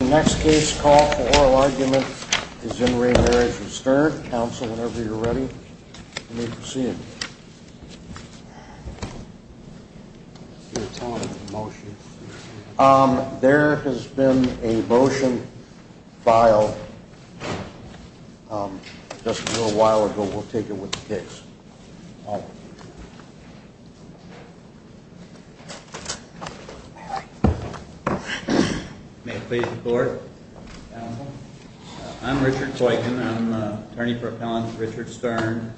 The next case call for oral argument is in re Marriage of Stern. Council, whenever you're ready, you may proceed. There has been a motion filed just a little while ago. We'll take it with the case. May it please the court. I'm Richard Clayton. I'm an attorney for appellant Richard Stern.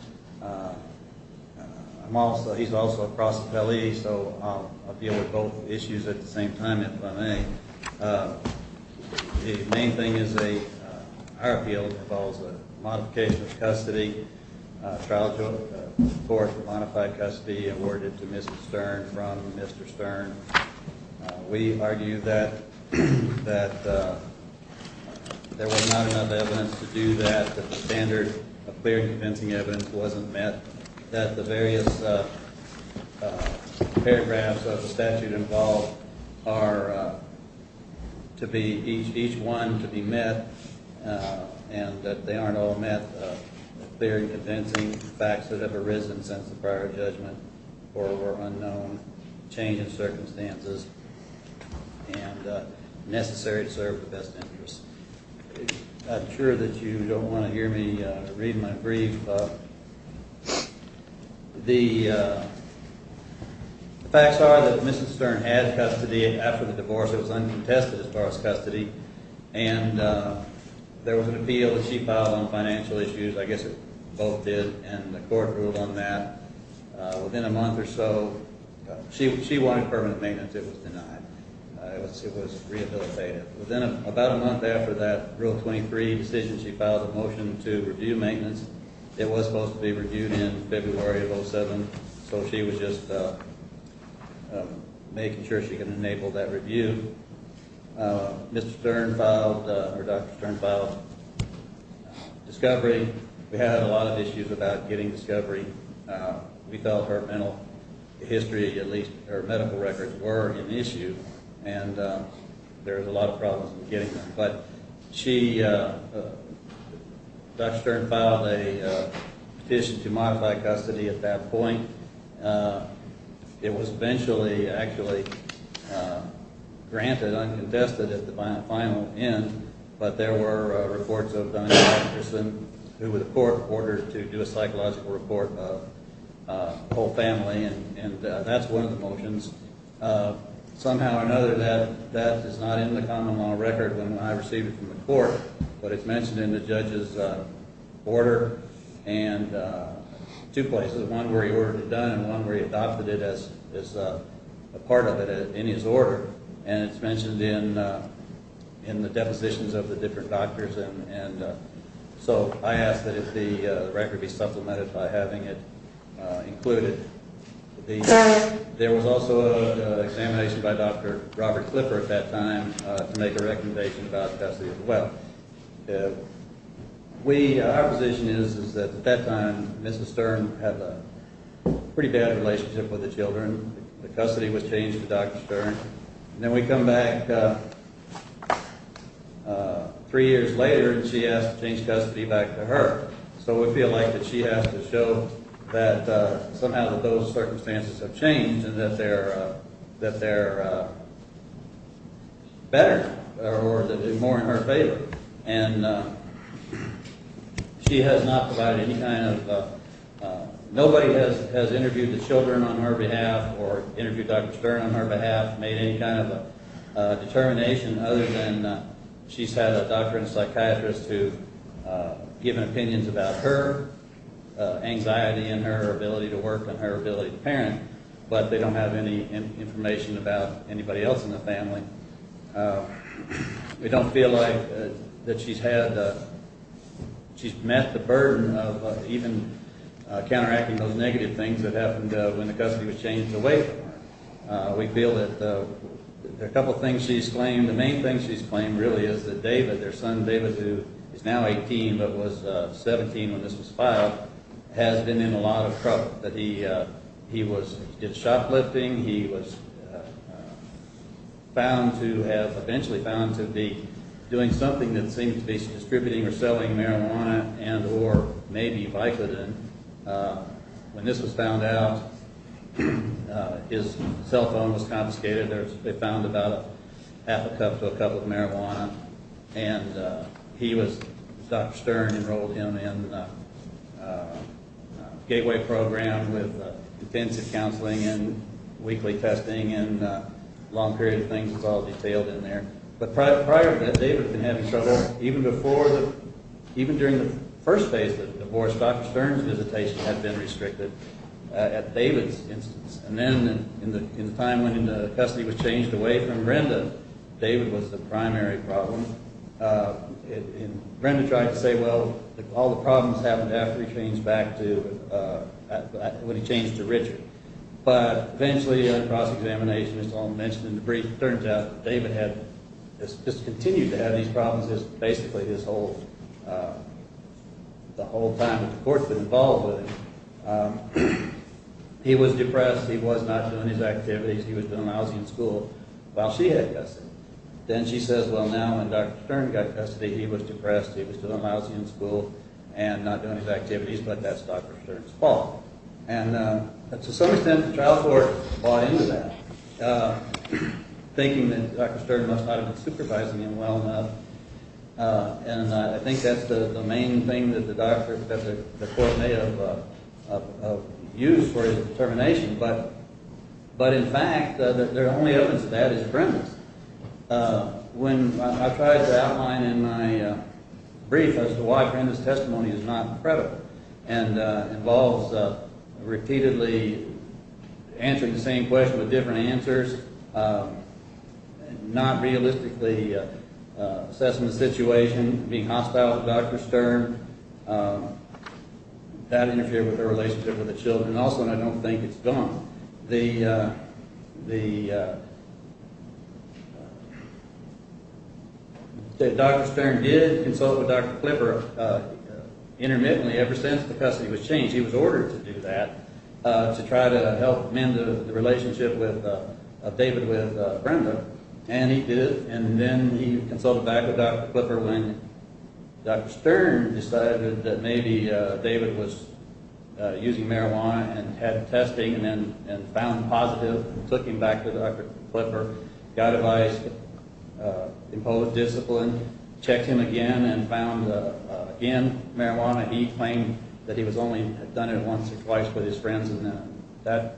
He's also a cross appellee, so I'll deal with both issues at the same time, if I may. The main thing is our appeal involves a modification of custody, a trial to a court of appeals, a court for modified custody awarded to Mrs. Stern from Mr. Stern. We argue that there was not enough evidence to do that, that the standard of clear and convincing evidence wasn't met, that the various paragraphs of the statute involved are to be each one to be met, and that they aren't all met, clear and convincing facts that have arisen since the prior judgment or were unknown, change in circumstances, and necessary to serve the best interest. I'm sure that you don't want to hear me read my brief. The facts are that Mrs. Stern had custody after the divorce. It was uncontested as far as custody. There was an appeal that she filed on financial issues. I guess it both did, and the court ruled on that. Within a month or so, she wanted permanent maintenance. It was denied. It was rehabilitated. Within about a month after that Rule 23 decision, she filed a motion to review maintenance. It was supposed to be reviewed in February of 2007, so she was just making sure she could enable that review. Mr. Stern filed, or Dr. Stern filed, discovery. We had a lot of issues about getting discovery. We felt her mental history, at least her medical records, were an issue, and there was a lot of problems in getting them. But she, Dr. Stern filed a petition to modify custody at that point. It was eventually granted, uncontested, at the final end, but there were reports of Donna Anderson, who the court ordered to do a psychological report of the whole family, and that's one of the motions. Somehow or another, that is not in the common law record when I received it from the court, but it's mentioned in the judge's order in two places. One where he ordered it done, and one where he adopted it as a part of it in his order, and it's mentioned in the depositions of the different doctors. So I ask that the record be supplemented by having it included. There was also an examination by Dr. Robert Clifford at that time to make a recommendation about custody as well. Our position is that at that time, Mrs. Stern had a pretty bad relationship with the children. The custody was changed to Dr. Stern. Then we come back three years later, and she asks to change custody back to her. So we feel like that she has to show that somehow that those circumstances have changed and that they're better, or that it's more in her favor. And she has not provided any kind of—nobody has interviewed the children on her behalf or interviewed Dr. Stern on her behalf, made any kind of determination, other than she's had a doctor and psychiatrist who have given opinions about her anxiety and her ability to work and her ability to parent, but they don't have any information about anybody else in the family. We don't feel like that she's met the burden of even counteracting those negative things that happened when the custody was changed away from her. We feel that there are a couple things she's claimed. The main thing she's claimed really is that David, their son David, who is now 18 but was 17 when this was filed, has been in a lot of trouble. He did shoplifting. He was found to have—eventually found to be doing something that seemed to be distributing or selling marijuana and or maybe Vicodin. When this was found out, his cell phone was confiscated. They found about a half a cup to a cup of marijuana. And he was—Dr. Stern enrolled him in a gateway program with intensive counseling and weekly testing and long-period things was all detailed in there. But prior to that, David had been having trouble. Even during the first phase of the divorce, Dr. Stern's visitation had been restricted at David's instance. And then in the time when the custody was changed away from Brenda, David was the primary problem. And Brenda tried to say, well, all the problems happened after he changed back to—when he changed to Richard. But eventually in a cross-examination, as Tom mentioned in the brief, it turns out David had just continued to have these problems basically his whole—the whole time that the court had been involved with him. He was depressed. He was not doing his activities. He was doing lousy in school while she had custody. Then she says, well, now when Dr. Stern got custody, he was depressed. He was doing lousy in school and not doing his activities, but that's Dr. Stern's fault. And to some extent, the trial court bought into that. Thinking that Dr. Stern must not have been supervising him well enough. And I think that's the main thing that the doctor—that the court may have used for his determination. But in fact, the only evidence of that is Brenda's. When I tried to outline in my brief as to why Brenda's testimony is not credible and involves repeatedly answering the same question with different answers, not realistically assessing the situation, being hostile to Dr. Stern, that interfered with her relationship with the children. Also, and I don't think it's dumb, the—the— He did consult with Dr. Clipper intermittently ever since the custody was changed. He was ordered to do that to try to help mend the relationship with—of David with Brenda. And he did, and then he consulted back with Dr. Clipper when Dr. Stern decided that maybe David was using marijuana and had testing and then found positive and took him back to Dr. Clipper. Dr. Clipper got advice, imposed discipline, checked him again and found again marijuana. He claimed that he was only—had done it once or twice with his friends and that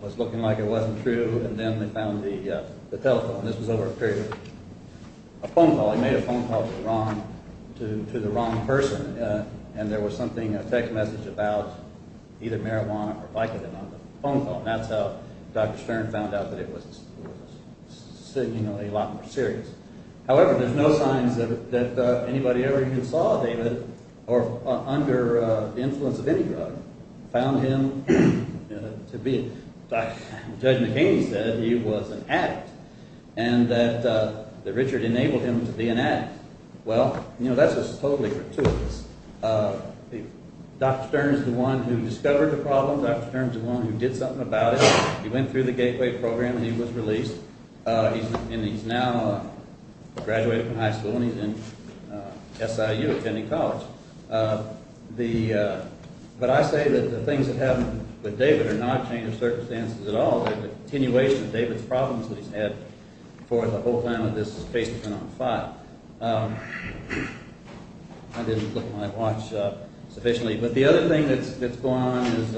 was looking like it wasn't true. And then they found the telephone. This was over a period of a phone call. He made a phone call to the wrong—to the wrong person. And there was something, a text message about either marijuana or Vicodin on the phone call. And that's how Dr. Stern found out that it was significantly a lot more serious. However, there's no signs that anybody ever who saw David or under influence of any drug found him to be— Judge McHaney said he was an addict and that Richard enabled him to be an addict. Well, you know, that's just totally gratuitous. Dr. Stern is the one who discovered the problem. Dr. Stern is the one who did something about it. He went through the gateway program and he was released. And he's now graduated from high school and he's in SIU attending college. But I say that the things that happened with David are not a change of circumstances at all. They're a continuation of David's problems that he's had for the whole time that this case has been on file. I didn't look at my watch sufficiently. But the other thing that's gone on is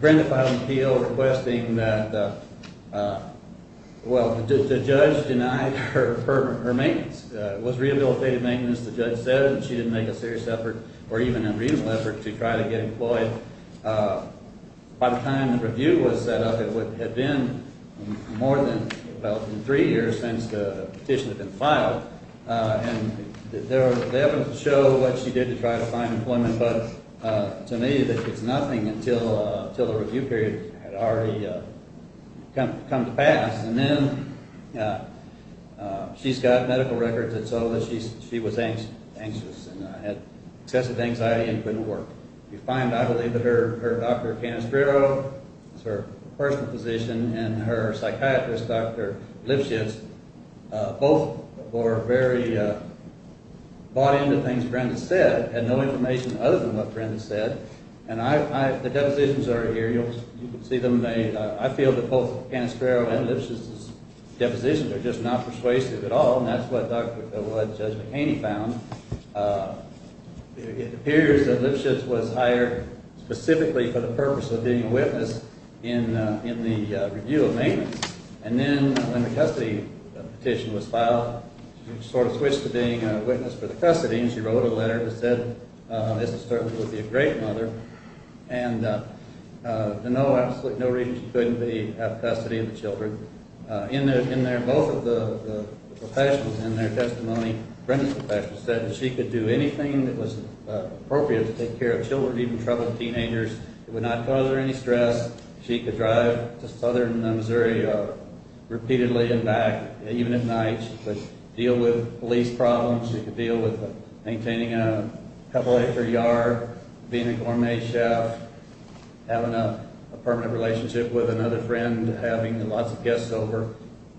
Brenda filed an appeal requesting that—well, the judge denied her maintenance. It was rehabilitative maintenance, the judge said, and she didn't make a serious effort or even unreasonable effort to try to get employed. By the time the review was set up, it had been more than about three years since the petition had been filed. And they haven't shown what she did to try to find employment. But to me, it's nothing until the review period had already come to pass. And then she's got medical records that show that she was anxious and had excessive anxiety and couldn't work. You find, I believe, that her—Dr. Canestrero is her personal physician and her psychiatrist, Dr. Lipschitz, both were very bought into things Brenda said and no information other than what Brenda said. And the depositions are here. You can see them. I feel that both Canestrero and Lipschitz's depositions are just not persuasive at all. And that's what Judge McHaney found. It appears that Lipschitz was hired specifically for the purpose of being a witness in the review of maintenance. And then when the custody petition was filed, she sort of switched to being a witness for the custody, and she wrote a letter that said this is certainly going to be a great mother. And to no reason she couldn't have custody of the children. Both of the patients in their testimony, Brenda's patients, said she could do anything that was appropriate to take care of children, even troubled teenagers. It would not cause her any stress. She could drive to southern Missouri repeatedly and back, even at night. She could deal with police problems. She could deal with maintaining a couple-acre yard, being a gourmet chef, having a permanent relationship with another friend, having lots of guests over.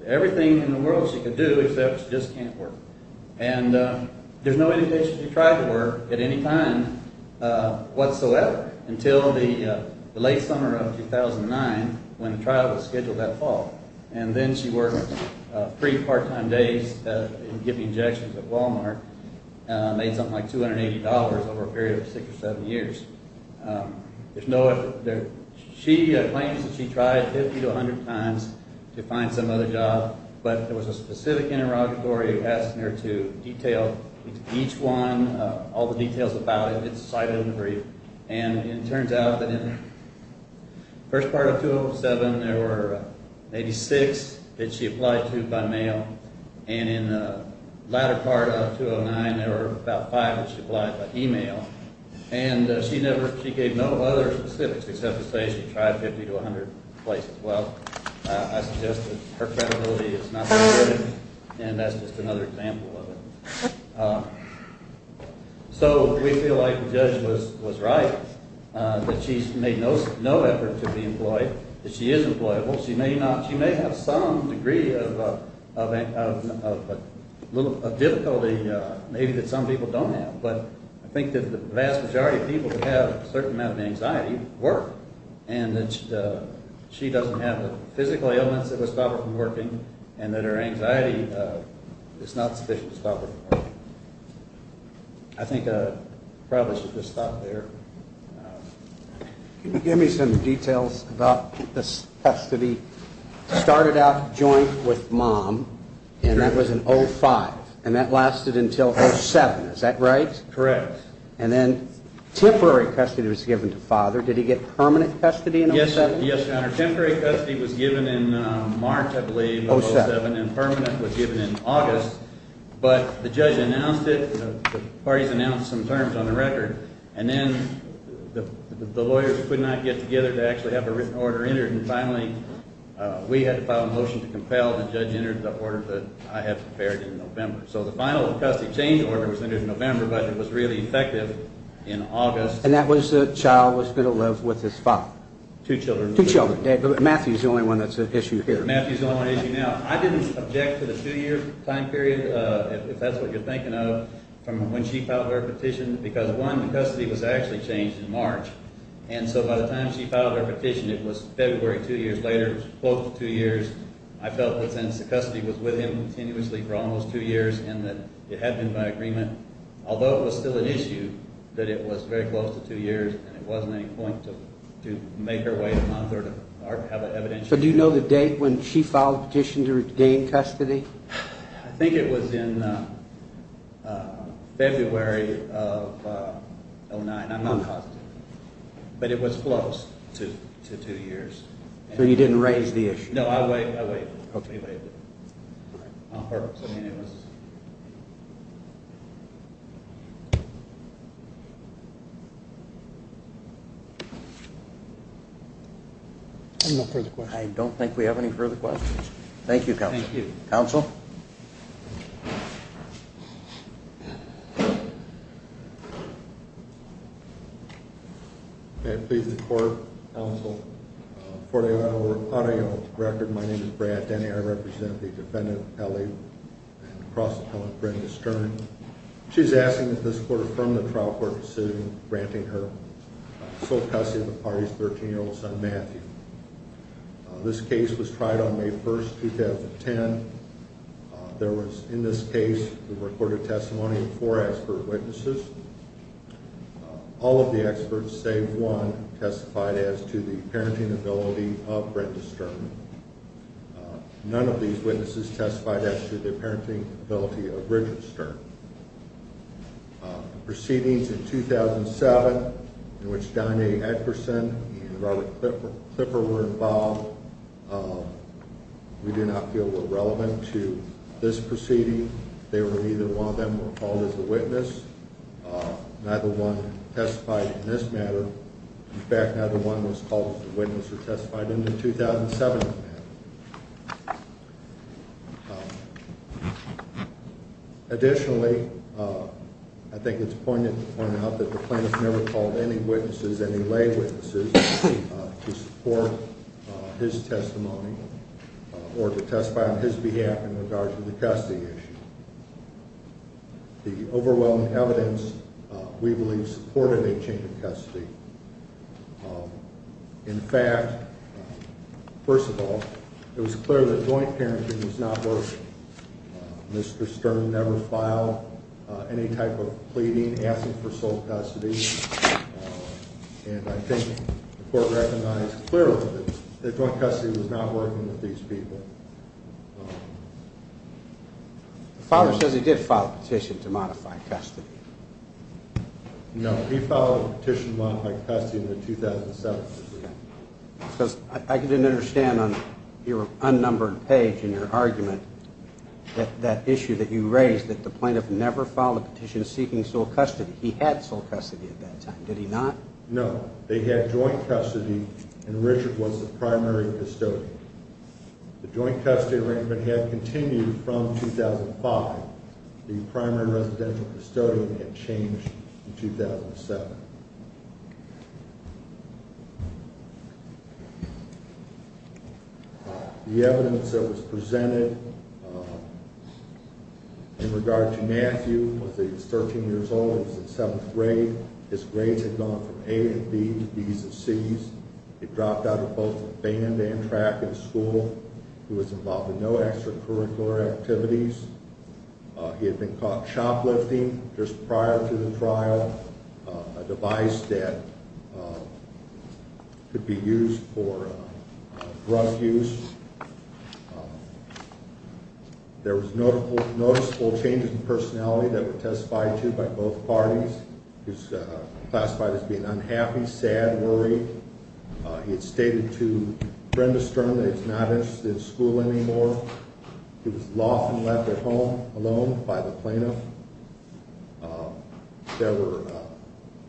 Everything in the world she could do, except she just can't work. And there's no indication she tried to work at any time whatsoever until the late summer of 2009, when the trial was scheduled that fall. And then she worked three part-time days giving injections at Walmart, made something like $280 over a period of six or seven years. She claims that she tried 50 to 100 times to find some other job, but there was a specific interrogatory asking her to detail each one, all the details about it. It's cited in the brief. And it turns out that in the first part of 2007, there were maybe six that she applied to by mail. And in the latter part of 2009, there were about five that she applied by email. And she gave no other specifics except to say she tried 50 to 100 places. Well, I suggest that her credibility is not so good, and that's just another example of it. So we feel like the judge was right, that she's made no effort to be employed, that she is employable. She may have some degree of difficulty, maybe, that some people don't have. But I think that the vast majority of people who have a certain amount of anxiety work, and that she doesn't have the physical ailments that would stop her from working, and that her anxiety is not sufficient to stop her from working. I think I probably should just stop there. Can you give me some details about this custody? It started out joint with mom, and that was in 2005, and that lasted until 2007. Is that right? Correct. And then temporary custody was given to father. Did he get permanent custody in 2007? Yes, Your Honor. Temporary custody was given in March, I believe. 2007. And permanent was given in August. But the judge announced it. The parties announced some terms on the record. And then the lawyers could not get together to actually have a written order entered. And finally, we had to file a motion to compel the judge to enter the order that I have prepared in November. So the final custody change order was entered in November, but it was really effective in August. And that was the child was still alive with his father? Two children. Two children. Matthew is the only one that's an issue here. Matthew is the only one issue now. I didn't object to the two-year time period, if that's what you're thinking of, from when she filed her petition. Because, one, the custody was actually changed in March. And so by the time she filed her petition, it was February, two years later. It was close to two years. I felt that since the custody was with him continuously for almost two years and that it had been by agreement, although it was still an issue, that it was very close to two years and it wasn't any point to make her wait a month or to have it evidential. So do you know the date when she filed the petition to regain custody? I think it was in February of 2009. I'm not positive. But it was close to two years. So you didn't raise the issue? No, I waived it. I don't think we have any further questions. Thank you, Counsel. Thank you. Counsel? May it please the Court, Counsel, for the Ohio record, my name is Brad Denny. I represent the defendant, L.A. cross-appellant Brenda Stern. She's asking that this Court affirm the trial court decision granting her sole custody of the party's 13-year-old son, Matthew. This case was tried on May 1st, 2010. There was, in this case, a recorded testimony of four expert witnesses. All of the experts, save one, testified as to the parenting ability of Brenda Stern. None of these witnesses testified as to the parenting ability of Richard Stern. Proceedings in 2007, in which Don A. Edgerson and Robert Clipper were involved, we do not feel were relevant to this proceeding. Neither one of them were called as a witness. Neither one testified in this matter. In fact, neither one was called as a witness or testified in the 2007 matter. Additionally, I think it's poignant to point out that the plaintiff never called any witnesses, any lay witnesses, to support his testimony or to testify on his behalf in regards to the custody issue. The overwhelming evidence, we believe, supported a change of custody. In fact, first of all, it was clear that joint parenting was not working. Mr. Stern never filed any type of pleading asking for sole custody. And I think the Court recognized clearly that joint custody was not working with these people. The filer says he did file a petition to modify custody. No, he filed a petition to modify custody in the 2007 proceeding. I didn't understand on your unnumbered page in your argument that issue that you raised, that the plaintiff never filed a petition seeking sole custody. He had sole custody at that time. Did he not? No. They had joint custody, and Richard was the primary custodian. The joint custody arrangement had continued from 2005. The primary residential custodian had changed in 2007. The evidence that was presented in regard to Matthew was that he was 13 years old. He was in seventh grade. His grades had gone from A and B to B's and C's. He dropped out of both band and track in school. He was involved in no extracurricular activities. He had been caught shoplifting just prior to the trial, a device that could be used for drug use. There was noticeable changes in personality that were testified to by both parties. He was classified as being unhappy, sad, worried. He had stated to Brenda Stern that he was not interested in school anymore. He was often left at home alone by the plaintiff.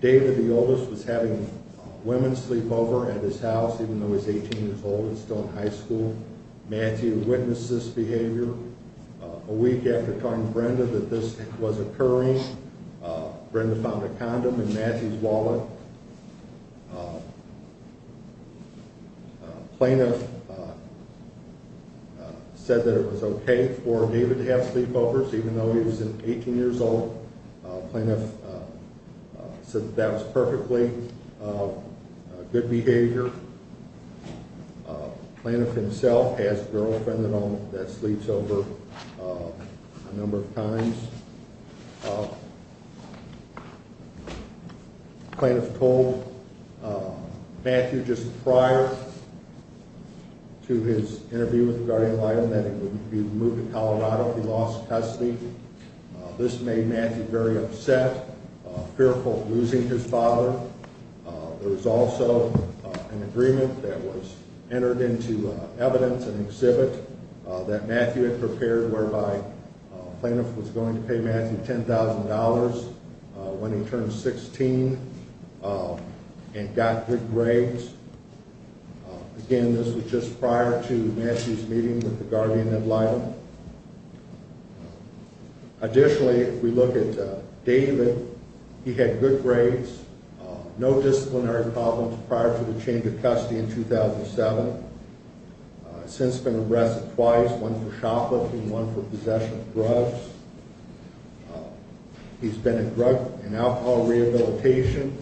David, the oldest, was having women sleep over at his house, even though he was 18 years old and still in high school. Matthew witnessed this behavior. A week after telling Brenda that this was occurring, Brenda found a condom in Matthew's wallet. The plaintiff said that it was okay for David to have sleepovers, even though he was 18 years old. The plaintiff said that was perfectly good behavior. The plaintiff himself has a girlfriend at home that sleeps over a number of times. The plaintiff told Matthew just prior to his interview with the guardian of the island that he would be moved to Colorado if he lost custody. This made Matthew very upset, fearful of losing his father. There was also an agreement that was entered into evidence and exhibit that Matthew had prepared, whereby the plaintiff was going to pay Matthew $10,000 when he turned 16 and got good grades. Again, this was just prior to Matthew's meeting with the guardian of the island. Additionally, if we look at David, he had good grades, no disciplinary problems prior to the change of custody in 2007. He's since been arrested twice, one for shoplifting and one for possession of drugs. He's been in drug and alcohol rehabilitation.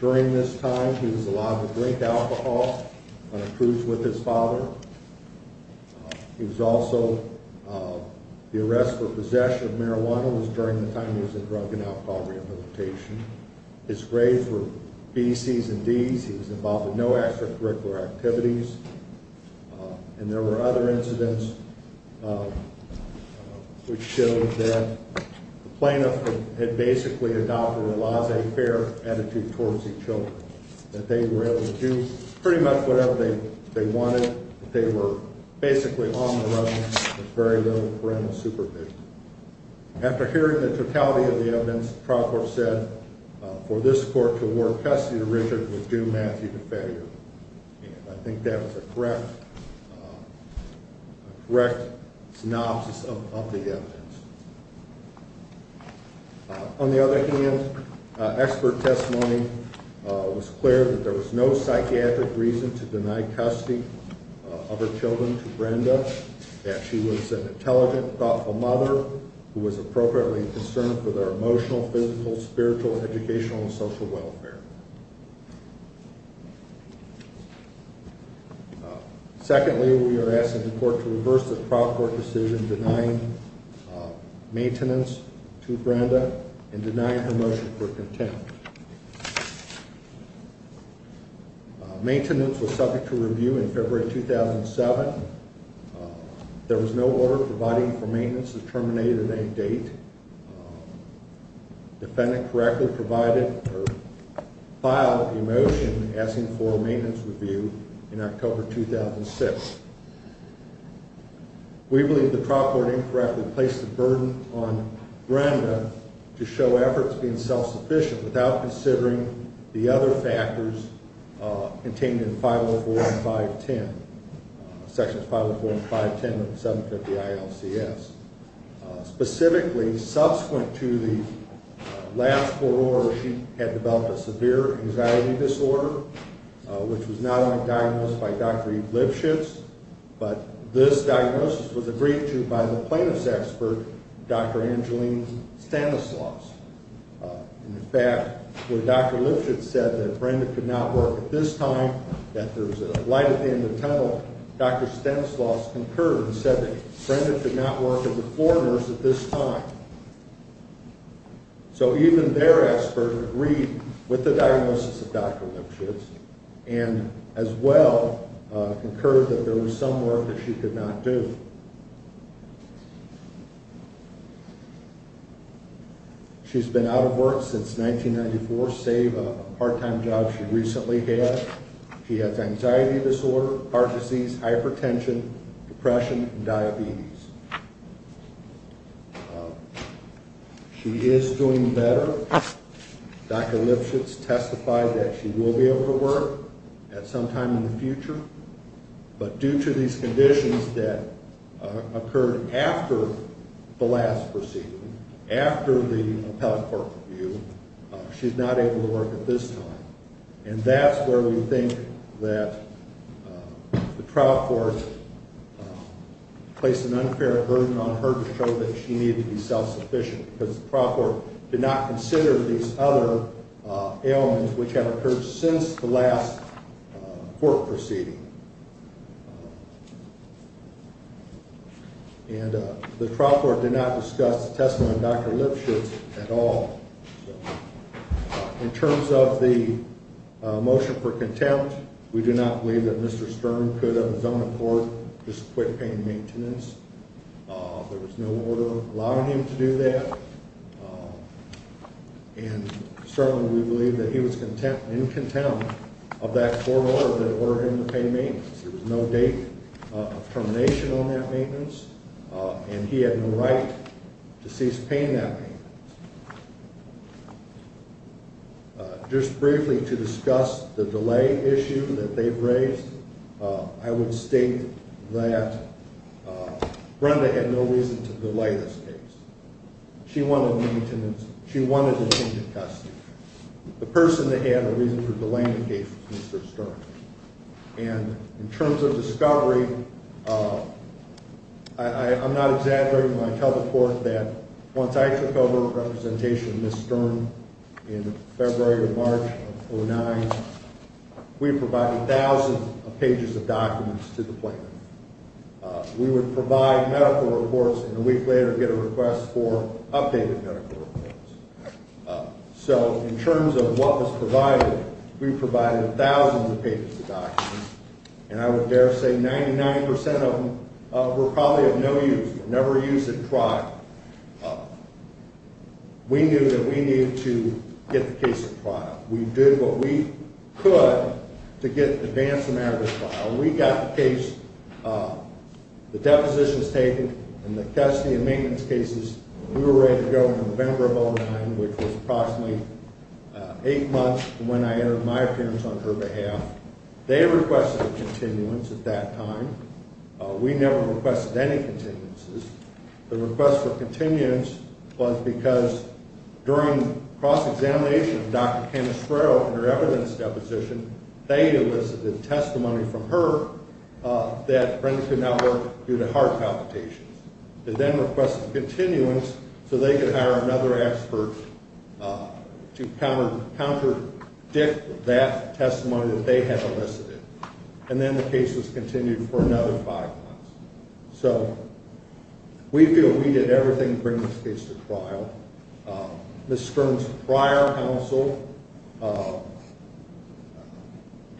During this time, he was allowed to drink alcohol on a cruise with his father. He was also, the arrest for possession of marijuana was during the time he was in drug and alcohol rehabilitation. His grades were B's, C's, and D's. He was involved in no extracurricular activities. And there were other incidents which showed that the plaintiff had basically adopted a laissez-faire attitude towards his children. That they were able to do pretty much whatever they wanted. They were basically on the run with very little parental supervision. After hearing the totality of the evidence, the trial court said for this court to award custody to Richard was due Matthew to failure. And I think that was a correct synopsis of the evidence. On the other hand, expert testimony was clear that there was no psychiatric reason to deny custody of her children to Brenda. That she was an intelligent, thoughtful mother who was appropriately concerned for their emotional, physical, spiritual, educational, and social welfare. Secondly, we are asking the court to reverse the trial court decision denying maintenance to Brenda and denying her motion for contempt. Maintenance was subject to review in February 2007. There was no order providing for maintenance that terminated at any date. The defendant correctly provided or filed a motion asking for a maintenance review in October 2006. We believe the trial court incorrectly placed the burden on Brenda to show efforts being self-sufficient without considering the other factors contained in 504 and 510. Sections 504 and 510 of the 750 ILCS. Specifically, subsequent to the last court order, she had developed a severe anxiety disorder, which was not only diagnosed by Dr. Lipschitz, but this diagnosis was agreed to by the plaintiff's expert, Dr. Angeline Stanislaus. In fact, when Dr. Lipschitz said that Brenda could not work at this time, that there was a light at the end of the tunnel, Dr. Stanislaus concurred and said that Brenda could not work as a floor nurse at this time. So even their expert agreed with the diagnosis of Dr. Lipschitz and as well concurred that there was some work that she could not do. She's been out of work since 1994, save a part-time job she recently had. She has anxiety disorder, heart disease, hypertension, depression, and diabetes. She is doing better. Dr. Lipschitz testified that she will be able to work at some time in the future. But due to these conditions that occurred after the last proceeding, after the appellate court review, she's not able to work at this time. And that's where we think that the trial court placed an unfair burden on her to show that she needed to be self-sufficient, because the trial court did not consider these other ailments which have occurred since the last court proceeding. And the trial court did not discuss the testimony of Dr. Lipschitz at all. In terms of the motion for contempt, we do not believe that Mr. Stern could of his own accord just quit pain maintenance. There was no order allowing him to do that. And certainly we believe that he was in contempt of that court order that ordered him to pay maintenance. There was no date of termination on that maintenance, and he had no right to cease paying that maintenance. Just briefly to discuss the delay issue that they've raised, I would state that Brenda had no reason to delay this case. She wanted to maintain the custody. The person that had a reason for delaying the case was Mr. Stern. And in terms of discovery, I'm not exaggerating when I tell the court that once I took over representation of Ms. Stern in February or March of 2009, we provided thousands of pages of documents to the plaintiff. We would provide medical reports and a week later get a request for updated medical reports. So in terms of what was provided, we provided thousands of pages of documents. And I would dare say 99% of them were probably of no use, never used at trial. We knew that we needed to get the case at trial. We did what we could to advance the matter at trial. We got the case, the depositions taken, and the custody and maintenance cases. We were ready to go in November of 2009, which was approximately eight months from when I entered my appearance on her behalf. They requested a continuance at that time. We never requested any continuances. The request for continuance was because during cross-examination of Dr. Kenneth Sproul and her evidence deposition, they elicited testimony from her that Brenda could not work due to heart palpitations. They then requested continuance so they could hire another expert to counter-dict that testimony that they had elicited. And then the case was continued for another five months. So we feel we did everything to bring this case to trial. Ms. Stern's prior counsel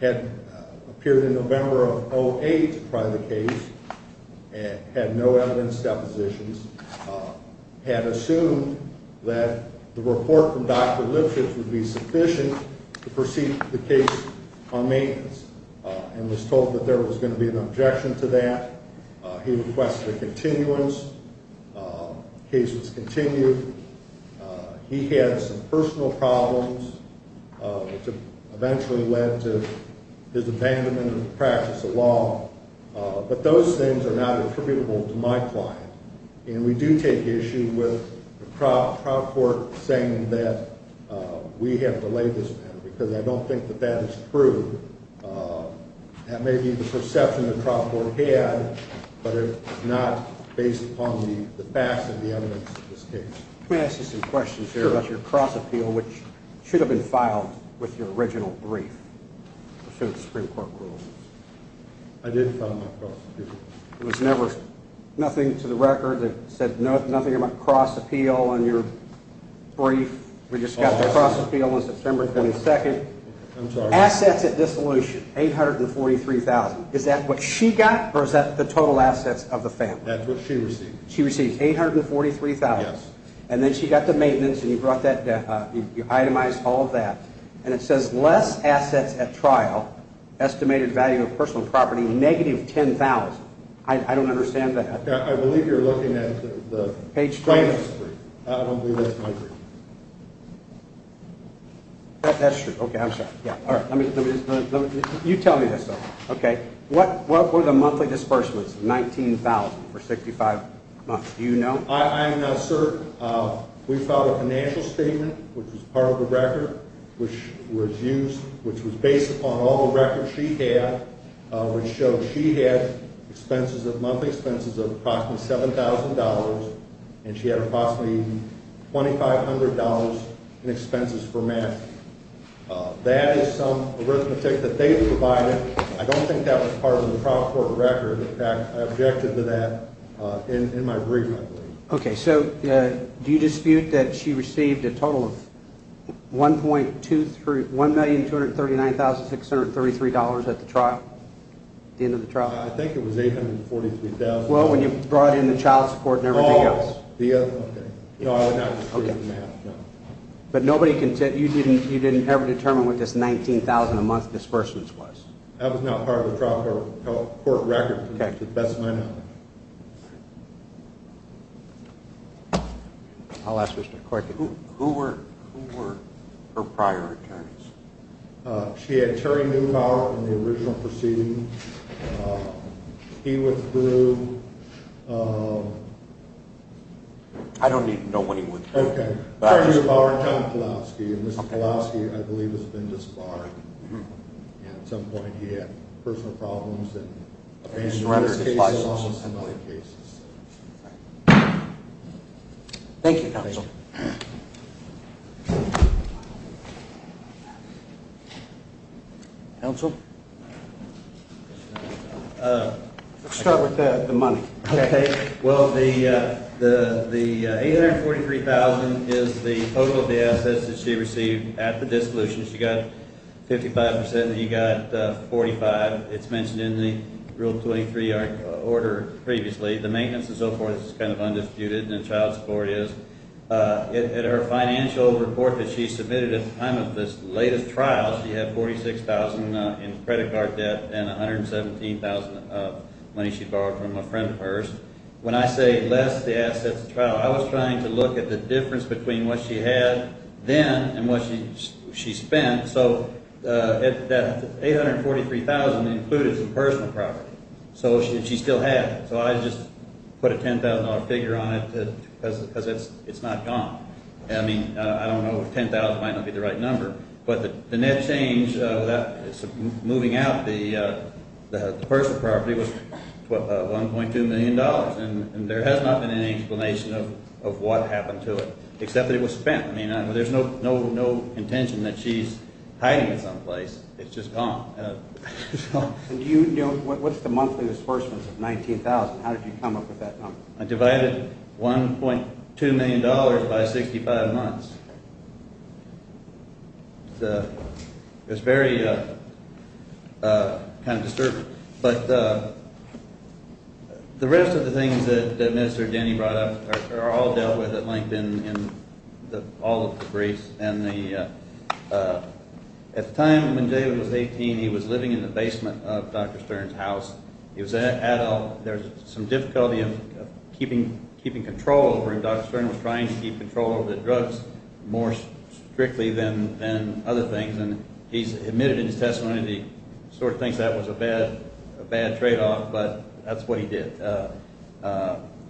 had appeared in November of 2008 to try the case and had no evidence depositions, had assumed that the report from Dr. Lipschitz would be sufficient to proceed with the case on maintenance, and was told that there was going to be an objection to that. He requested a continuance. The case was continued. He had some personal problems, which eventually led to his abandonment of the practice of law. But those things are not attributable to my client. And we do take issue with the trial court saying that we have delayed this matter because I don't think that that is true. That may be the perception the trial court had, but it's not based upon the facts and the evidence of this case. Let me ask you some questions here about your cross-appeal, which should have been filed with your original brief. I assume the Supreme Court ruled. I did file my cross-appeal. There was never nothing to the record that said nothing about cross-appeal on your brief? We just got the cross-appeal on September 22nd. Assets at dissolution, $843,000. Is that what she got, or is that the total assets of the family? That's what she received. She received $843,000. Yes. And then she got the maintenance, and you brought that down. You itemized all of that. And it says less assets at trial, estimated value of personal property, negative $10,000. I don't understand that. I believe you're looking at the trial's brief. I don't believe that's my brief. That's true. Okay, I'm sorry. All right. You tell me this, though. Okay. What were the monthly disbursements of $19,000 for 65 months? Do you know? I am not certain. We filed a financial statement, which was part of the record, which was used, which was based upon all the records she had, which showed she had monthly expenses of approximately $7,000, and she had approximately $2,500 in expenses for math. That is some arithmetic that they provided. I don't think that was part of the trial court record. In fact, I objected to that in my brief, I believe. Okay, so do you dispute that she received a total of $1,239,633 at the trial, at the end of the trial? I think it was $843,000. Well, when you brought in the child support and everything else. Oh, okay. No, I would not dispute that, no. But you didn't ever determine what this $19,000 a month disbursement was? That was not part of the trial court record, to the best of my knowledge. I'll ask Mr. Corcoran. Who were her prior attorneys? She had Terry Neubauer in the original proceeding. He withdrew. I don't even know when he withdrew. Terry Neubauer and Tom Kalowski. And Mr. Kalowski, I believe, has been disbarred. And at some point he had personal problems. And in other cases, similar cases. Thank you, counsel. Counsel? Let's start with the money. Okay. Well, the $843,000 is the total of the assets that she received at the dissolution. She got 55% and you got 45%. It's mentioned in the Rule 23 order previously. The maintenance and so forth is kind of undisputed, and the child support is. In her financial report that she submitted at the time of this latest trial, she had $46,000 in credit card debt and $117,000 of money she borrowed from a friend of hers. When I say less the assets of the trial, I was trying to look at the difference between what she had then and what she spent. So that $843,000 included some personal property. So she still had it. So I just put a $10,000 figure on it because it's not gone. I mean, I don't know if $10,000 might not be the right number. But the net change moving out the personal property was $1.2 million, and there has not been any explanation of what happened to it except that it was spent. I mean, there's no intention that she's hiding it someplace. It's just gone. What's the monthly disbursements of $19,000? How did you come up with that number? I divided $1.2 million by 65 months. It was very kind of disturbing. But the rest of the things that Minister Denny brought up are all dealt with at length in all of the briefs. And at the time when David was 18, he was living in the basement of Dr. Stern's house. He was an adult. There was some difficulty of keeping control over him. Dr. Stern was trying to keep control over the drugs more strictly than other things. And he's admitted in his testimony that he sort of thinks that was a bad tradeoff, but that's what he did.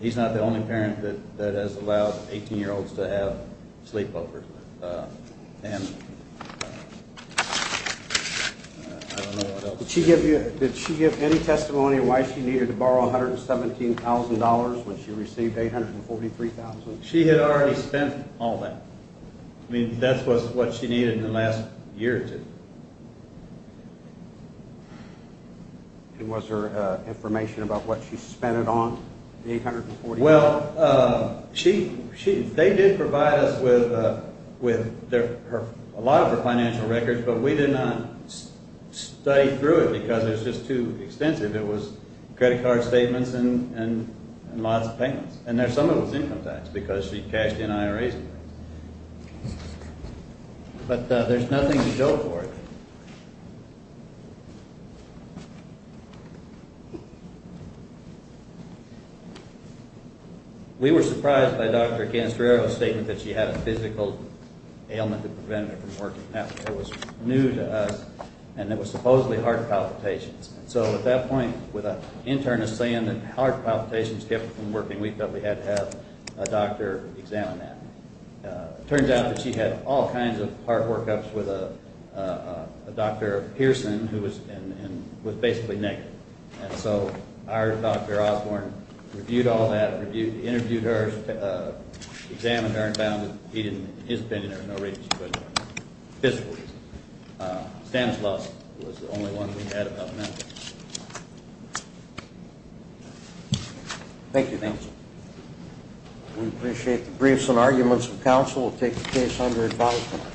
He's not the only parent that has allowed 18-year-olds to have sleepovers. And I don't know what else. Did she give any testimony of why she needed to borrow $117,000 when she received $843,000? She had already spent all that. I mean, that's what she needed in the last year or two. And was there information about what she spent it on, the $843,000? Well, they did provide us with a lot of her financial records, but we did not study through it because it was just too extensive. It was credit card statements and lots of payments. And there's some of it was income tax because she cashed in IRAs and things. But there's nothing to go for. We were surprised by Dr. Canestrero's statement that she had a physical ailment that prevented her from working. That was new to us, and it was supposedly heart palpitations. And so at that point, with an internist saying that heart palpitations kept her from working, we felt we had to have a doctor examine that. It turns out that she had all kinds of heart work-ups with a Dr. Pearson who was basically naked. And so our Dr. Osborne reviewed all that and interviewed her, examined her, and found that he didn't, in his opinion, there was no reason she couldn't work for physical reasons. Stanislaus was the only one we had about medical. Thank you. We appreciate the briefs and arguments of counsel. We'll take the case under advisement.